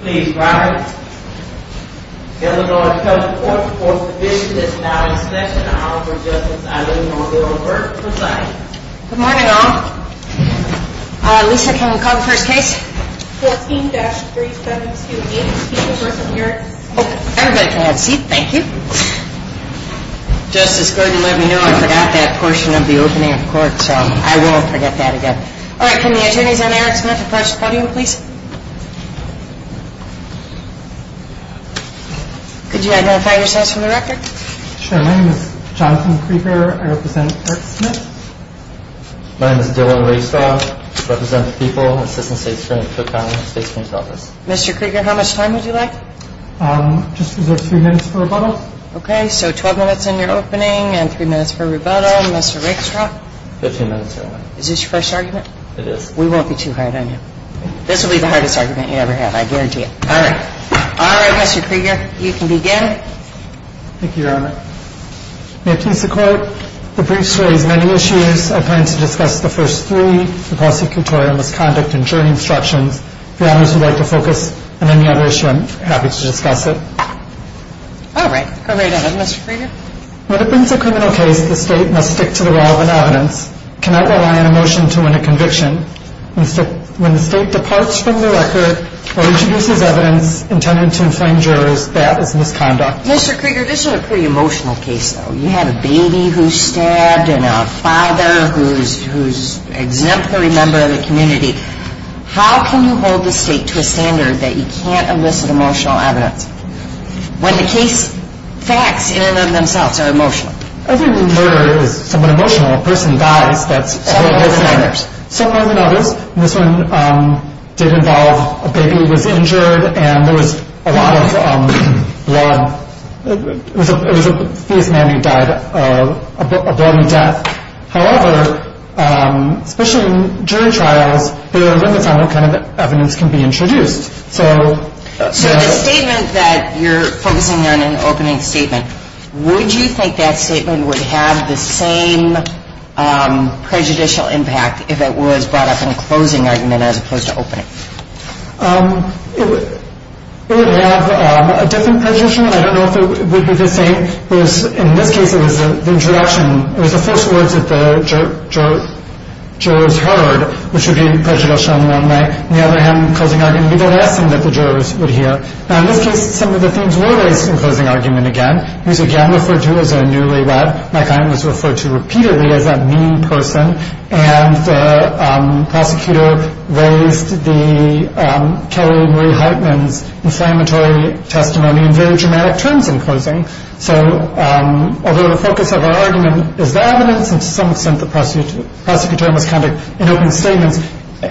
Please rise. The Illinois County Court of Appeals Division is now in session. I'll offer Justice Eileen O'Neill a word from the side. Good morning all. Lisa, can you call the first case? 14-3728. Everybody can have a seat. Thank you. Justice Gordon, let me know. I forgot that portion of the opening of court, so I won't forget that again. All right. Can the attorneys on Eric Smith approach the podium, please? Could you identify yourselves for the record? Sure. My name is Jonathan Krieger. I represent Eric Smith. My name is Dylan Raystraw. I represent the People, Assistant State Attorney for the County and State Attorney's Office. Mr. Krieger, how much time would you like? Just reserve three minutes for rebuttal. Okay. So 12 minutes in your opening and three minutes for rebuttal. Mr. Raystraw? Fifteen minutes, Your Honor. Is this your first argument? It is. We won't be too hard on you. This will be the hardest argument you ever have, I guarantee it. All right. All right, Mr. Krieger, you can begin. Thank you, Your Honor. May it please the Court, the briefs raise many issues. I plan to discuss the first three, the prosecutorial misconduct and jury instructions. If the honors would like to focus on any other issue, I'm happy to discuss it. All right. Go right ahead, Mr. Krieger. When it brings a criminal case, the State must stick to the law of evidence, cannot rely on emotion to win a conviction. When the State departs from the record or introduces evidence intended to inflame jurors, that is misconduct. Mr. Krieger, this is a pretty emotional case, though. You have a baby who's stabbed and a father who's an exemplary member of the community. How can you hold the State to a standard that you can't elicit emotional evidence? When the case facts in and of themselves are emotional. Every murder is somewhat emotional. A person dies. Some more than others. Some more than others. This one did involve a baby was injured and there was a lot of blood. It was a man who died a bloody death. However, especially in jury trials, there are limits on what kind of evidence can be introduced. So the statement that you're focusing on in the opening statement, would you think that statement would have the same prejudicial impact if it was brought up in a closing argument as opposed to opening? It would have a different prejudicial impact. I don't know if it would be the same. In this case, it was the introduction. It was the first words that the jurors heard, which would be prejudicial. On the other hand, closing argument would be the last thing that the jurors would hear. In this case, some of the themes were raised in closing argument again. He was again referred to as a newlywed. My client was referred to repeatedly as a mean person. And the prosecutor raised Kelly Marie Hartman's inflammatory testimony in very dramatic terms in closing. So although the focus of our argument is the evidence, and to some extent the prosecutor misconduct in opening statements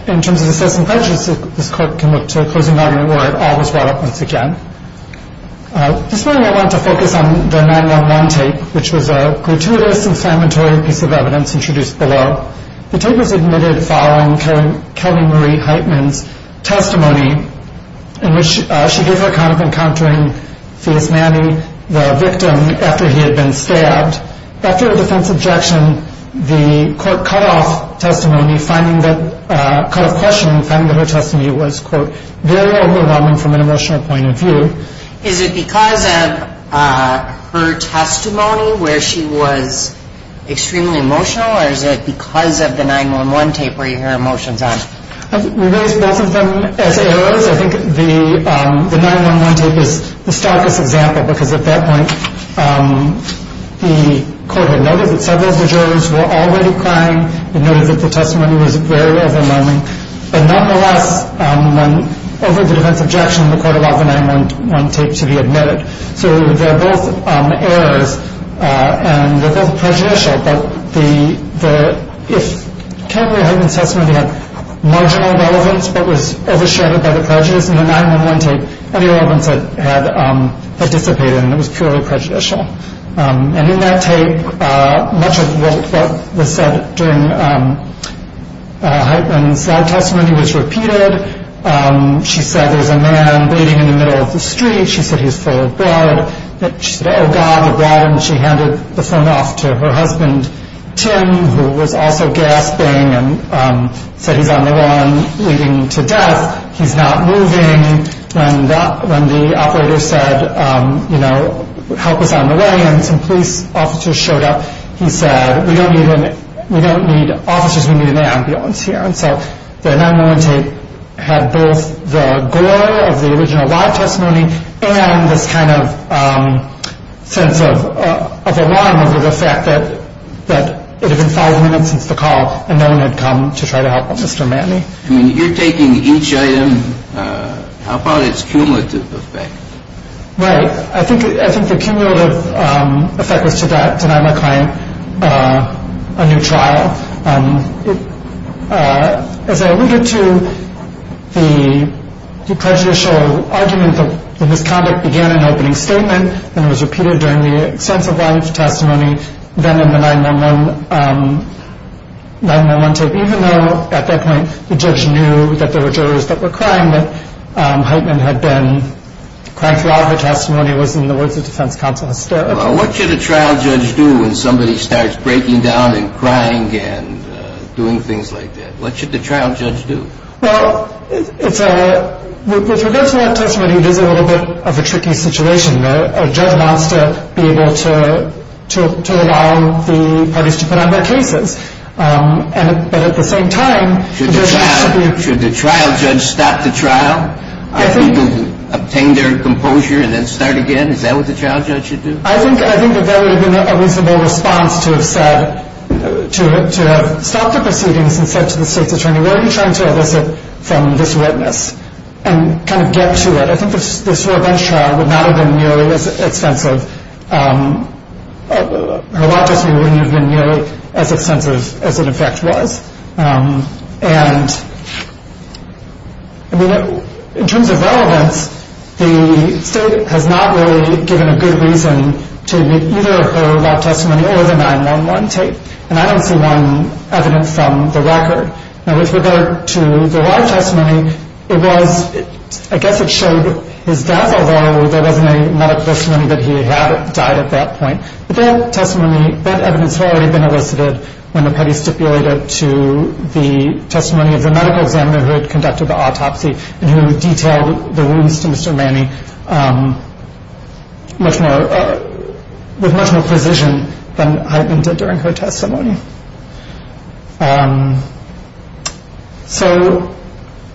in terms of assessing prejudices, this court can look to closing argument where it all was brought up once again. This morning I wanted to focus on the 911 tape, which was a gratuitous, inflammatory piece of evidence introduced below. The tape was admitted following Kelly Marie Hartman's testimony, in which she gave her account of encountering Fiat's nanny, the victim, after he had been stabbed. After a defense objection, the court cut off testimony, cut off questioning, finding that her testimony was, quote, very overwhelming from an emotional point of view. Is it because of her testimony where she was extremely emotional, or is it because of the 911 tape where you hear emotions on? We raised both of them as errors. First, I think the 911 tape is the starkest example, because at that point the court had noted that several of the jurors were already crying, and noted that the testimony was very overwhelming. But nonetheless, over the defense objection, the court allowed the 911 tape to be admitted. So they're both errors, and they're both prejudicial, but if Kelly Marie Hartman's testimony had marginal relevance, but was overshadowed by the prejudice, in the 911 tape any relevance had dissipated, and it was purely prejudicial. And in that tape, much of what was said during Hartman's testimony was repeated. She said there's a man bleeding in the middle of the street. She said he's full of blood. She said, oh God, the blood, and she handed the phone off to her husband, Tim, who was also gasping and said he's on the run, bleeding to death. He's not moving. When the operator said, you know, help us on the way, and some police officers showed up, he said, we don't need officers, we need an ambulance here. So the 911 tape had both the gore of the original live testimony and this kind of sense of alarm over the fact that it had been five minutes since the call and no one had come to try to help Mr. Matney. I mean, you're taking each item. How about its cumulative effect? Right. I think the cumulative effect was to deny my client a new trial. As I alluded to, the prejudicial argument in his conduct began in opening statement and was repeated during the extensive live testimony, then in the 911 tape, even though at that point the judge knew that there were jurors that were crying that Hartman had been crying throughout her testimony was in the words of defense counsel hysterical. What should a trial judge do when somebody starts breaking down and crying and doing things like that? What should the trial judge do? Well, with regard to that testimony, it is a little bit of a tricky situation. A judge wants to be able to allow the parties to put on their cases. But at the same time, the judge wants to be able to... Should the trial judge stop the trial? Get people to obtain their composure and then start again? Is that what the trial judge should do? I think that that would have been a reasonable response to have said, to have stopped the proceedings and said to the state's attorney, what are you trying to elicit from this witness? And kind of get to it. I think this revenge trial would not have been nearly as extensive. Her law testimony wouldn't have been nearly as extensive as it, in fact, was. And, I mean, in terms of relevance, the state has not really given a good reason to make either her law testimony or the 911 tape. And I don't see one evidence from the record. Now, with regard to the law testimony, it was, I guess it showed his dazzle, though there wasn't a medical testimony that he had died at that point. But that testimony, that evidence had already been elicited when the petty stipulated to the testimony of the medical examiner who had conducted the autopsy and who detailed the wounds to Mr. Manning with much more precision than Hydeman did during her testimony. So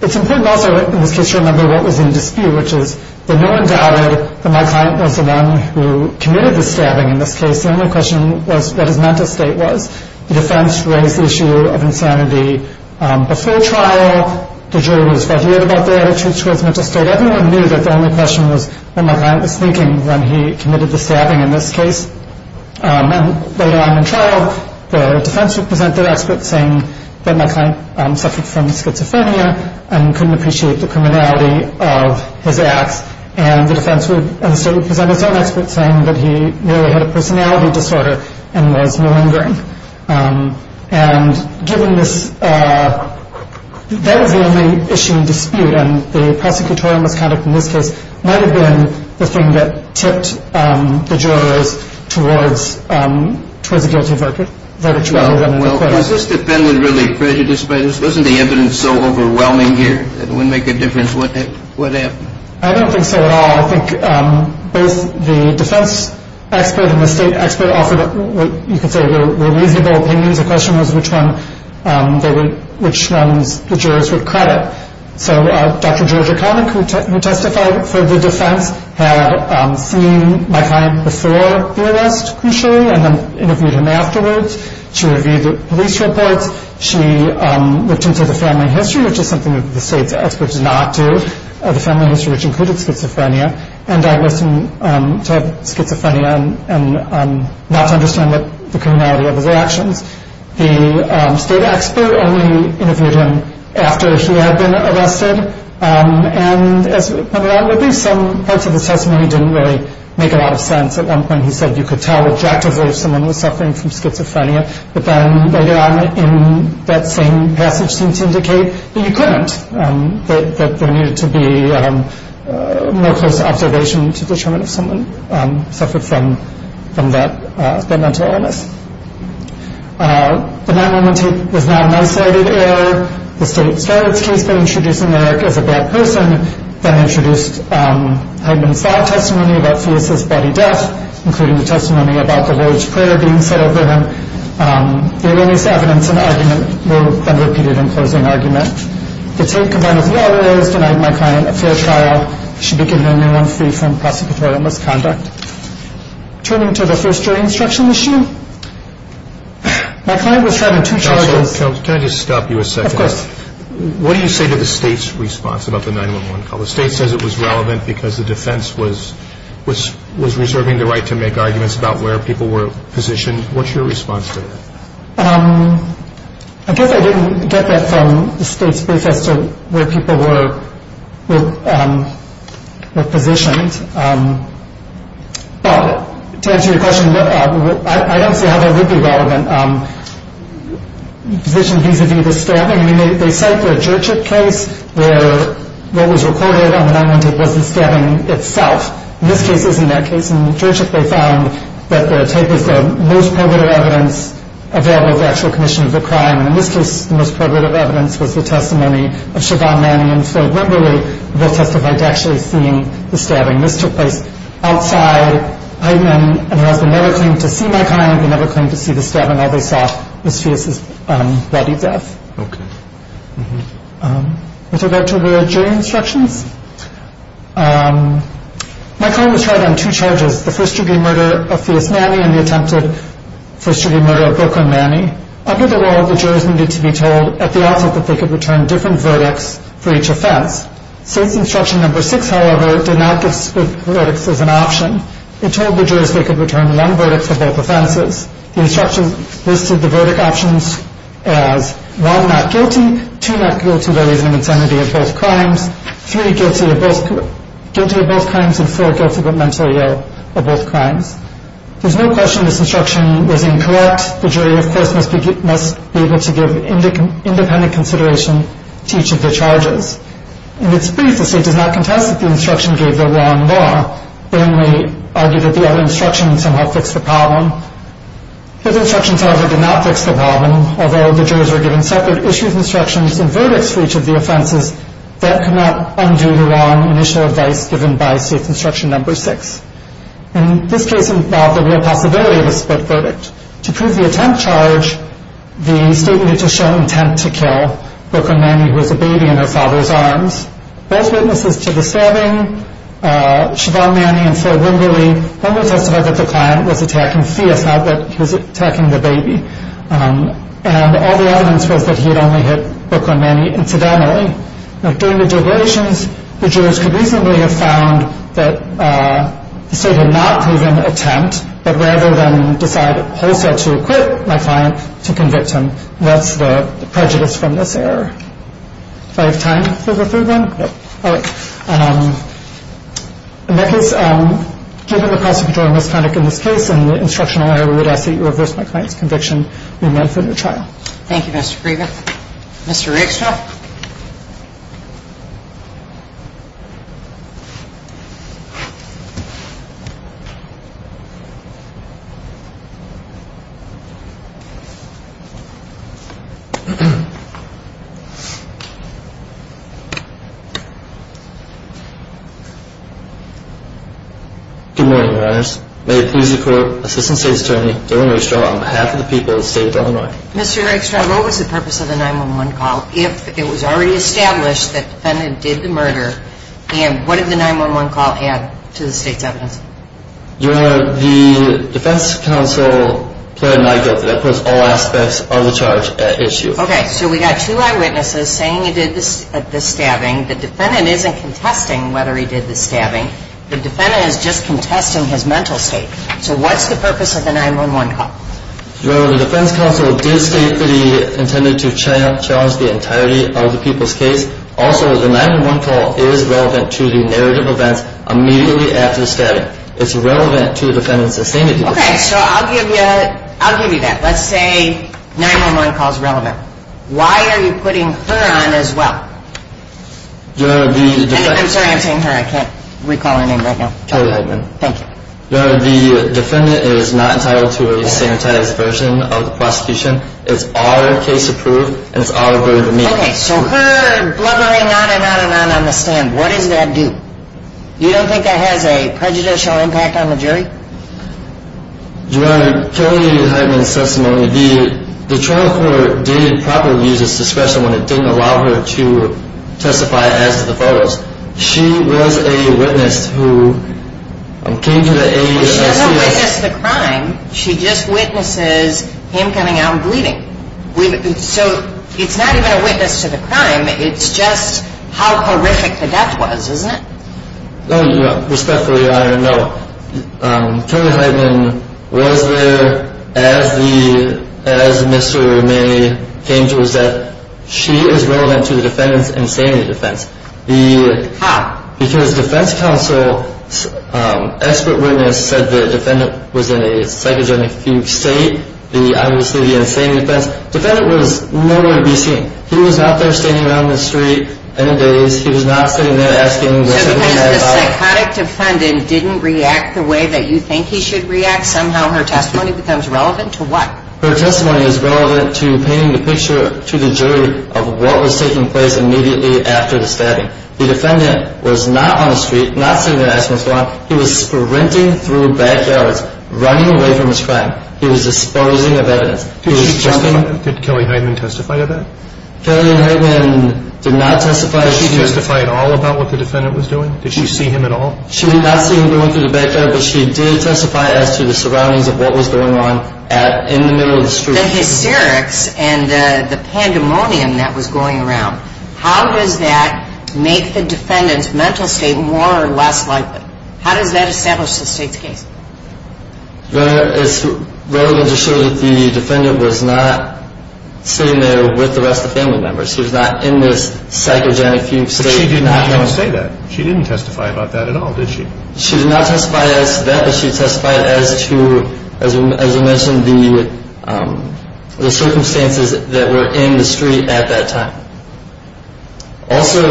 it's important also in this case to remember what was in dispute, which is that no one doubted that my client was the one who committed the stabbing in this case. The only question was what his mental state was. The defense raised the issue of insanity. Before trial, the jury was quite worried about their attitudes towards mental state. Everyone knew that the only question was what my client was thinking when he committed the stabbing in this case. And later on in trial, the defense would present their expert saying that my client suffered from schizophrenia and couldn't appreciate the criminality of his acts. And the defense and the state would present its own expert saying that he merely had a personality disorder and was malingering. And given this, that was the only issue in dispute, and the prosecutorial misconduct in this case might have been the thing that tipped the jurors towards a guilty verdict rather than an acquittal. Well, was this defendant really prejudiced by this? Wasn't the evidence so overwhelming here that it wouldn't make a difference what happened? I don't think so at all. I think both the defense expert and the state expert offered what you could say were reasonable opinions. The question was which ones the jurors would credit. So Dr. Georgia Connick, who testified for the defense, had seen my client before the arrest, crucially, and then interviewed him afterwards. She reviewed the police reports. She looked into the family history, which is something that the state's expert did not do. The family history, which included schizophrenia, and diagnosed him to have schizophrenia and not to understand the criminality of his actions. The state expert only interviewed him after he had been arrested, and as we'll come around to, some parts of his testimony didn't really make a lot of sense. At one point he said you could tell objectively if someone was suffering from schizophrenia, but then later on in that same passage seemed to indicate that you couldn't, that there needed to be more close observation to determine if someone suffered from that mental illness. But at that moment, it was not an isolated error. The state started the case by introducing Eric as a bad person, then introduced Heidman's thought testimony about Theus' body death, including the testimony about the Lord's Prayer being said over him. The earliest evidence and argument were then repeated in closing argument. The state confirmed a few other errors, denied my client a fair trial, should be given a new one free from prosecutorial misconduct. Turning to the first jury instruction issue, my client was charged with two charges. Can I just stop you a second? Of course. What do you say to the state's response about the 911 call? The state says it was relevant because the defense was reserving the right to make arguments about where people were positioned. What's your response to that? I guess I didn't get that from the state's brief as to where people were positioned. But to answer your question, I don't see how that would be relevant. Positioned vis-a-vis the stabbing, I mean, they cite the Jurtschik case where what was recorded on the 911 tape was the stabbing itself. This case isn't that case. In Jurtschik, they found that the tape was the most probative evidence available for actual commission of the crime, and in this case, the most probative evidence was the testimony of Siobhan Manning and Floyd Wimberly. They testified to actually seeing the stabbing. This took place outside Eidman, and the husband never claimed to see my client. He never claimed to see the stabbing. All they saw was Fias's bloody death. Okay. With regard to the jury instructions, my client was tried on two charges, the first-degree murder of Fias Manning and the attempted first-degree murder of Brooklyn Manning. Under the law, the jurors needed to be told at the office that they could return different verdicts for each offense. State's instruction number six, however, did not give split verdicts as an option. It told the jurors they could return one verdict for both offenses. The instructions listed the verdict options as one not guilty, two not guilty by reason of insanity of both crimes, three guilty of both crimes, and four guilty but mentally ill of both crimes. There's no question this instruction was incorrect. The jury, of course, must be able to give independent consideration to each of the charges. In its brief, the state does not contest that the instruction gave the wrong law. They only argued that the other instruction somehow fixed the problem. The other instruction, however, did not fix the problem. Although the jurors were given separate issues, instructions, and verdicts for each of the offenses, that could not undo the wrong initial advice given by state's instruction number six. And this case involved the real possibility of a split verdict. To prove the attempt charge, the state needed to show intent to kill Brooklyn Manning, who was a baby in her father's arms. Those witnesses to the stabbing, Siobhan Manning and Phil Wimberly, only testified that the client was attacking Thea, not that he was attacking the baby. And all the evidence was that he had only hit Brooklyn Manning incidentally. During the deliberations, the jurors could reasonably have found that the state had not proven intent, but rather than decide wholesale to acquit my client, to convict him. And that's the prejudice from this error. Do I have time for the third one? Yep. All right. In that case, given the cost of controlling misconduct in this case, and the instructional error, we would ask that you reverse my client's conviction and remand him to trial. Thank you, Mr. Krieger. Mr. Rixta? Good morning, Your Honors. May it please the Court, Assistant State Attorney Dillon Rixta on behalf of the people of the State of Illinois. Mr. Rixta, what was the purpose of the 911 call if it was already established that the defendant did the murder, and what did the 911 call add to the state's evidence? Your Honor, the defense counsel pled not guilty. That puts all aspects of the charge at issue. Okay. So we got two eyewitnesses saying he did the stabbing. The defendant isn't contesting whether he did the stabbing. The defendant is just contesting his mental state. So what's the purpose of the 911 call? Your Honor, the defense counsel did state that he intended to challenge the entirety of the people's case. Also, the 911 call is relevant to the narrative events immediately after the stabbing. It's relevant to the defendant's sustainability. Okay. So I'll give you that. Let's say 911 call is relevant. Why are you putting her on as well? Your Honor, the defense counsel... I'm sorry, I'm saying her. I can't recall her name right now. Kelly Heitman. Thank you. Your Honor, the defendant is not entitled to a sanitized version of the prosecution. It's all case approved, and it's all averted to me. Okay. So her blubbering on and on and on on the stand, what does that do? You don't think that has a prejudicial impact on the jury? Your Honor, Kelly Heitman's testimony, the trial court didn't properly use its discretion when it didn't allow her to testify as to the photos. She was a witness who came to the aid of C.S. She doesn't witness the crime. She just witnesses him coming out and bleeding. So it's not even a witness to the crime. It's just how horrific the death was, isn't it? Respectfully, Your Honor, no. Kelly Heitman was there as Mr. Manny came to his aid. She is relevant to the defendant's insanity defense. How? Because defense counsel's expert witness said the defendant was in a psychogenic state. Obviously, the insanity defense. Defendant was nowhere to be seen. He was out there standing around the street in a daze. He was not sitting there asking what's happening. If the psychotic defendant didn't react the way that you think he should react, somehow her testimony becomes relevant to what? Her testimony is relevant to painting the picture to the jury of what was taking place immediately after the stabbing. The defendant was not on the street, not sitting there asking what's going on. He was sprinting through backyards, running away from his crime. He was disposing of evidence. Did Kelly Heitman testify to that? Kelly Heitman did not testify. Did she testify at all about what the defendant was doing? Did she see him at all? She did not see him going through the backyard, but she did testify as to the surroundings of what was going on in the middle of the street. The hysterics and the pandemonium that was going around, how does that make the defendant's mental state more or less likely? How does that establish the state's case? Your Honor, it's relevant to show that the defendant was not sitting there with the rest of the family members. She was not in this psychogenic state. But she did not say that. She didn't testify about that at all, did she? She did not testify to that, but she testified as to, as I mentioned, the circumstances that were in the street at that time. Also,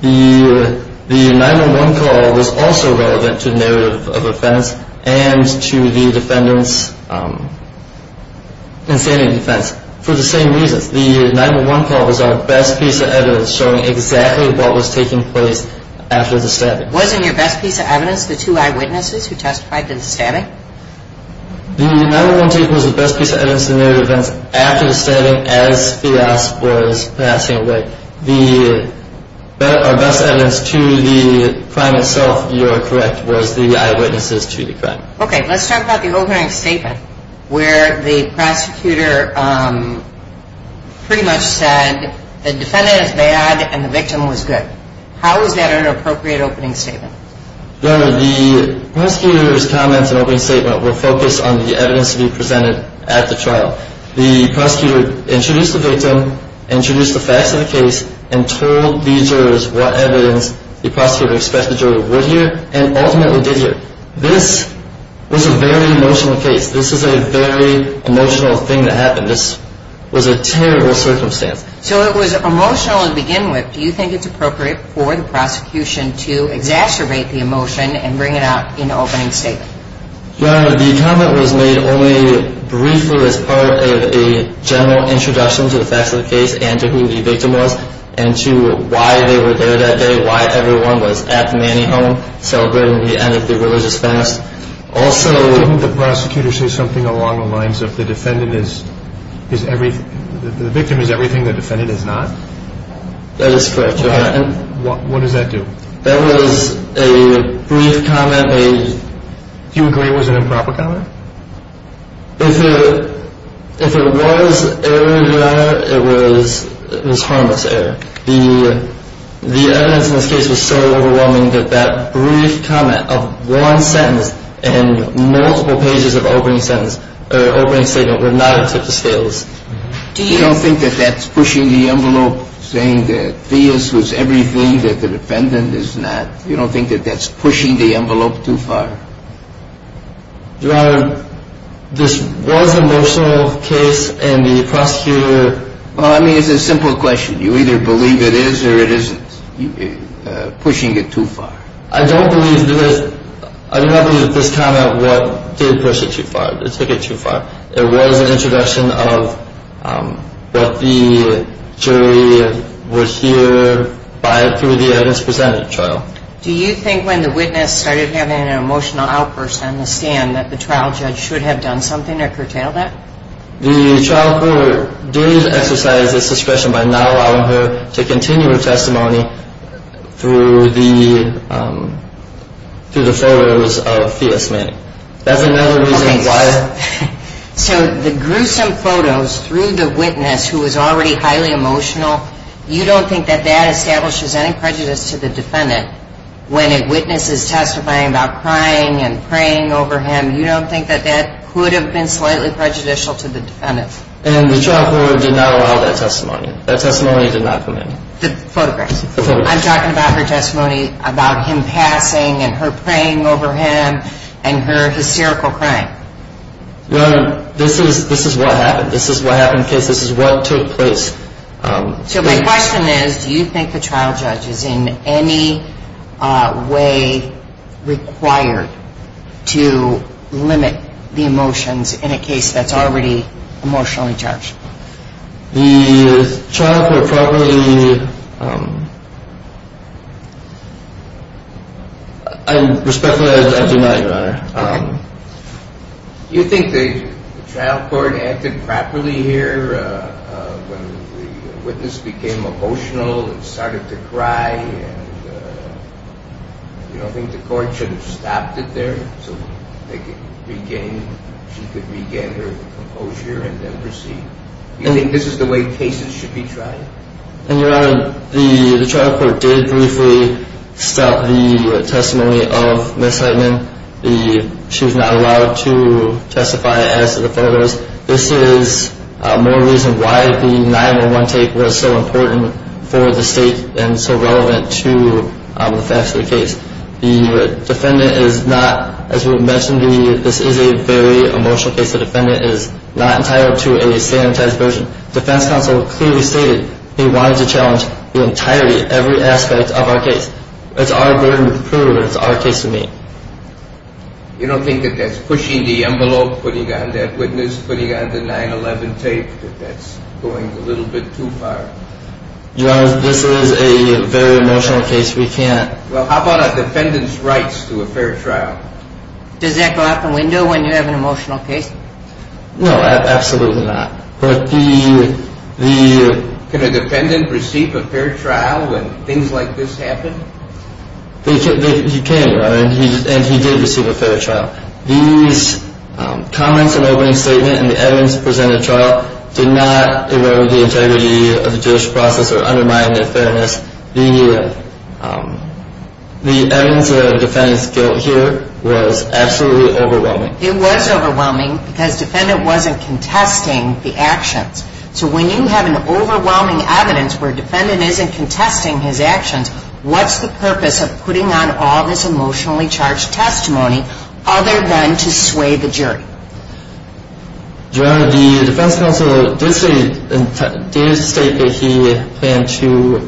the 911 call was also relevant to the narrative of offense and to the defendant's insanity defense for the same reasons. The 911 call was our best piece of evidence showing exactly what was taking place after the stabbing. Wasn't your best piece of evidence the two eyewitnesses who testified to the stabbing? The 911 tape was the best piece of evidence in the narrative of offense after the stabbing as Fias was passing away. Our best evidence to the crime itself, you are correct, was the eyewitnesses to the crime. Okay, let's talk about the opening statement where the prosecutor pretty much said the defendant is bad and the victim was good. How is that an appropriate opening statement? Your Honor, the prosecutor's comments in the opening statement were focused on the evidence to be presented at the trial. The prosecutor introduced the victim, introduced the facts of the case, and told the jurors what evidence the prosecutor expected the juror would hear and ultimately did hear. This was a very emotional case. This is a very emotional thing that happened. This was a terrible circumstance. So it was emotional to begin with. Do you think it's appropriate for the prosecution to exacerbate the emotion and bring it out in the opening statement? Your Honor, the comment was made only briefly as part of a general introduction to the facts of the case and to who the victim was and to why they were there that day, why everyone was at the manning home celebrating the end of the religious fast. Also... Didn't the prosecutor say something along the lines of the victim is everything, the defendant is not? That is correct, Your Honor. What does that do? That was a brief comment. Do you agree it was an improper comment? If it was error, Your Honor, it was harmless error. The evidence in this case was so overwhelming that that brief comment of one sentence and multiple pages of opening sentence or opening statement would not have took the scales. Do you... You don't think that that's pushing the envelope, saying that this was everything, that the defendant is not? You don't think that that's pushing the envelope too far? Your Honor, this was an emotional case and the prosecutor... Well, I mean, it's a simple question. You either believe it is or it isn't pushing it too far. I don't believe this. I do not believe that this comment did push it too far. It took it too far. It was an introduction of what the jury would hear through the evidence presented, Your Honor. Do you think when the witness started having an emotional outburst on the stand that the trial judge should have done something to curtail that? The trial court did exercise its discretion by not allowing her to continue her testimony through the photos of Thea Smith. That's another reason why... So the gruesome photos through the witness who was already highly emotional, you don't think that that establishes any prejudice to the defendant when a witness is testifying about crying and praying over him? You don't think that that could have been slightly prejudicial to the defendant? And the trial court did not allow that testimony. That testimony did not come in. The photographs. The photographs. I'm talking about her testimony about him passing and her praying over him and her hysterical crying. Your Honor, this is what happened. This is what happened in the case. This is what took place. So my question is, do you think the trial judge is in any way required to limit the emotions in a case that's already emotionally charged? The trial court probably... Respectfully, I do not, Your Honor. Do you think the trial court acted properly here when the witness became emotional and started to cry and you don't think the court should have stopped it there so she could regain her composure and then proceed? Do you think this is the way cases should be tried? Your Honor, the trial court did briefly stop the testimony of Ms. Heitman. She was not allowed to testify as to the photos. This is more reason why the 911 take was so important for the state and so relevant to the facts of the case. The defendant is not, as you mentioned, this is a very emotional case. The defendant is not entitled to a sanitized version. Defense counsel clearly stated he wanted to challenge the entirety, every aspect of our case. That's our burden of proof and it's our case to meet. You don't think that that's pushing the envelope, putting on that witness, putting on the 911 take, that that's going a little bit too far? Your Honor, this is a very emotional case. We can't... Well, how about a defendant's rights to a fair trial? Does that go out the window when you have an emotional case? No, absolutely not. But the... Can a defendant receive a fair trial when things like this happen? He can, Your Honor, and he did receive a fair trial. These comments and opening statement and the evidence presented at trial did not erode the integrity of the judicial process or undermine their fairness. The evidence of the defendant's guilt here was absolutely overwhelming. It was overwhelming because defendant wasn't contesting the actions. So when you have an overwhelming evidence where defendant isn't contesting his actions, what's the purpose of putting on all this emotionally charged testimony other than to sway the jury? Your Honor, the defense counsel did state that he planned to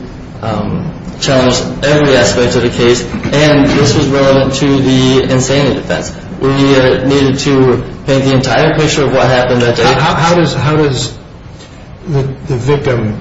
challenge every aspect of the case, and this was relevant to the insanity defense. We needed to paint the entire picture of what happened that day. How does the victim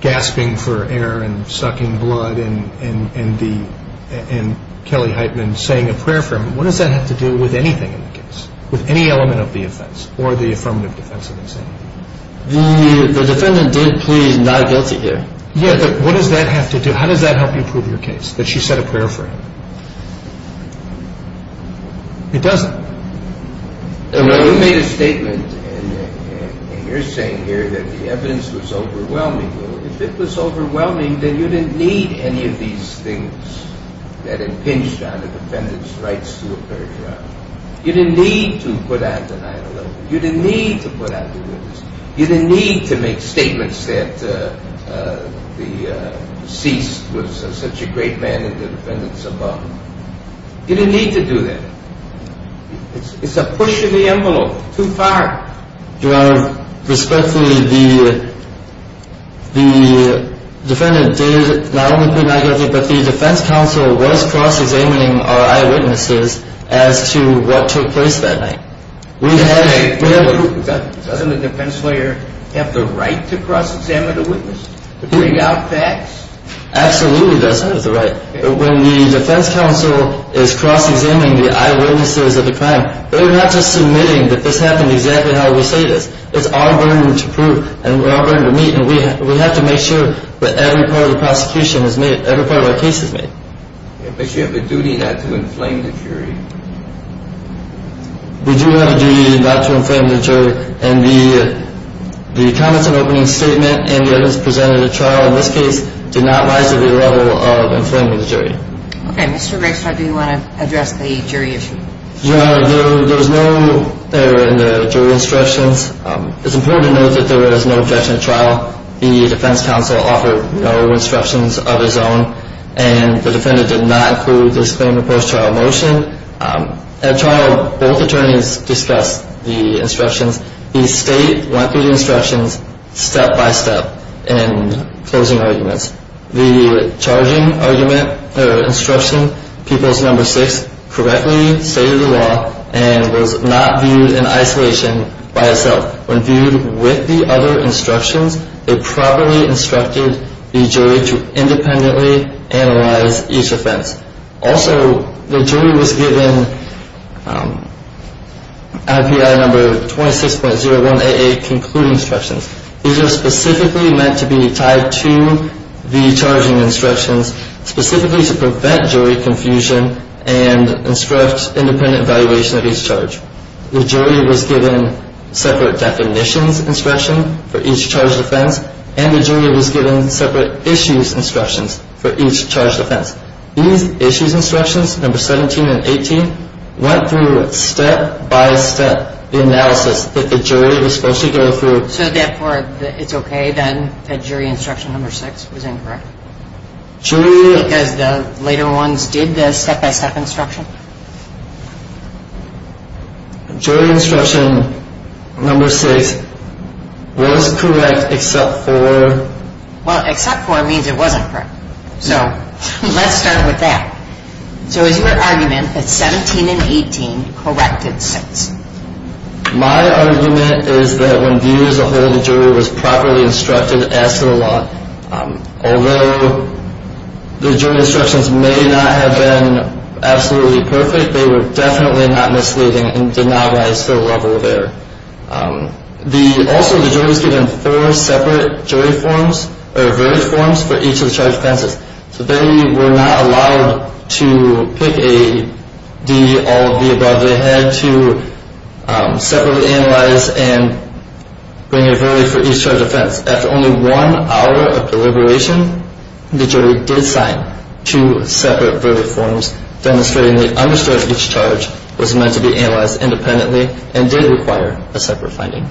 gasping for air and sucking blood and Kelly Heitman saying a prayer for him, what does that have to do with anything in the case, with any element of the offense, or the affirmative defense of insanity? The defendant did plead not guilty here. Yeah, but what does that have to do... How does that help you prove your case, that she said a prayer for him? It doesn't. You made a statement, and you're saying here that the evidence was overwhelming. If it was overwhelming, then you didn't need any of these things that impinged on the defendant's rights to appear at trial. You didn't need to put out the 9-11. You didn't need to put out the witness. You didn't need to make statements that the deceased was such a great man and the defendant's above. You didn't need to do that. It's a push of the envelope too far. Your Honor, respectfully, the defendant did not only plead not guilty, but the defense counsel was cross-examining our eyewitnesses as to what took place that night. Doesn't the defense lawyer have the right to cross-examine the witness? To bring out facts? Absolutely does. That is the right. When the defense counsel is cross-examining the eyewitnesses of the crime, they're not just submitting that this happened exactly how it was stated. It's our burden to prove, and our burden to meet, and we have to make sure that every part of the prosecution is made, every part of our case is made. But you have a duty not to inflame the jury. We do have a duty not to inflame the jury, and the comments and opening statement and the evidence presented at trial in this case did not rise to the level of inflaming the jury. Okay. Mr. Gregstad, do you want to address the jury issue? Your Honor, there was no error in the jury instructions. It's important to note that there was no objection at trial. The defense counsel offered no instructions of his own, and the defendant did not include this claim in the post-trial motion. At trial, both attorneys discussed the instructions. The state went through the instructions step-by-step in closing arguments. The charging argument or instruction, People's No. 6, correctly stated the law and was not viewed in isolation by itself. When viewed with the other instructions, they properly instructed the jury to independently analyze each offense. Also, the jury was given IPI No. 26.0188 Concluding Instructions. These are specifically meant to be tied to the charging instructions, specifically to prevent jury confusion and instruct independent evaluation of each charge. The jury was given separate definitions instruction for each charged offense, and the jury was given separate issues instructions for each charged offense. These issues instructions, No. 17 and 18, went through step-by-step analysis that the jury was supposed to go through. So therefore, it's okay then that jury instruction No. 6 was incorrect? Because the later ones did the step-by-step instruction? Jury instruction No. 6 was correct except for... Well, except for means it wasn't correct. So let's start with that. So is your argument that 17 and 18 corrected 6? My argument is that when viewed as a whole, the jury was properly instructed as to the law. Although the jury instructions may not have been absolutely perfect, they were definitely not misleading and did not rise to the level there. Also, the jury was given four separate jury forms, or verdict forms, for each of the charged offenses. So they were not allowed to pick a D, all of the above. They had to separately analyze and bring a verdict for each charged offense. After only one hour of deliberation, the jury did sign two separate verdict forms, demonstrating they understood each charge was meant to be analyzed independently and did require a separate finding.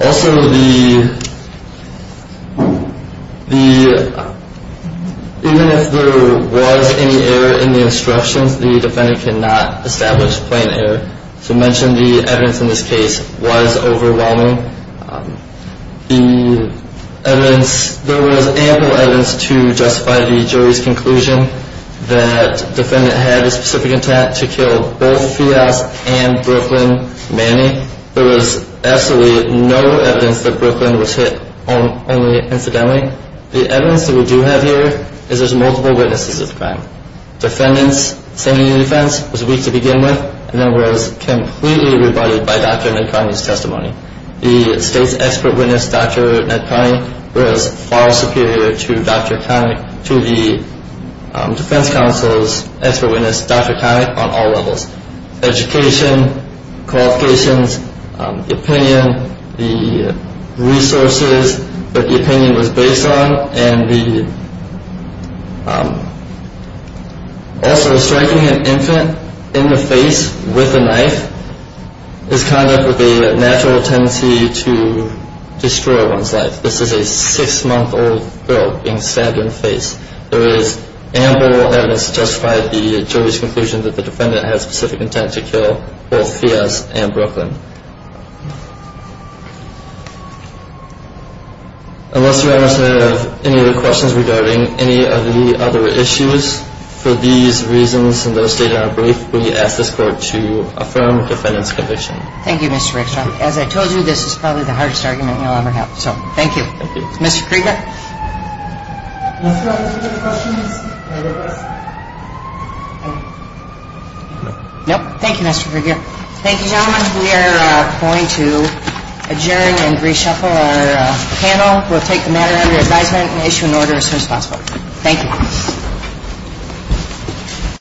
Also, even if there was any error in the instructions, the defendant cannot establish plain error. To mention the evidence in this case was overwhelming. The evidence, there was ample evidence to justify the jury's conclusion that the defendant had a specific intent to kill both Fias and Brooklyn Manning. There was absolutely no evidence that Brooklyn was hit only incidentally. The evidence that we do have here is there's multiple witnesses of the crime. Defendant's sentencing defense was weak to begin with and then was completely rebutted by Dr. Nakani's testimony. The state's expert witness, Dr. Nakani, was far superior to Dr. Connick, to the defense counsel's expert witness, Dr. Connick, on all levels. Education, qualifications, opinion, the resources that the opinion was based on, and also striking an infant in the face with a knife is kind of the natural tendency to destroy one's life. This is a six-month-old girl being stabbed in the face. There is ample evidence to justify the jury's conclusion that the defendant had a specific intent to kill both Fias and Brooklyn. Unless you have any other questions regarding any of the other issues, for these reasons and those stated in our brief, we ask this court to affirm the defendant's conviction. Thank you, Mr. Rickstrom. As I told you, this is probably the hardest argument you'll ever have. So thank you. Thank you. Mr. Krieger? Do you have any other questions? No. No? Thank you, Mr. Krieger. Thank you, gentlemen. We are going to adjourn and reshuffle our panel. We'll take the matter under advisement and issue an order as soon as possible. Thank you.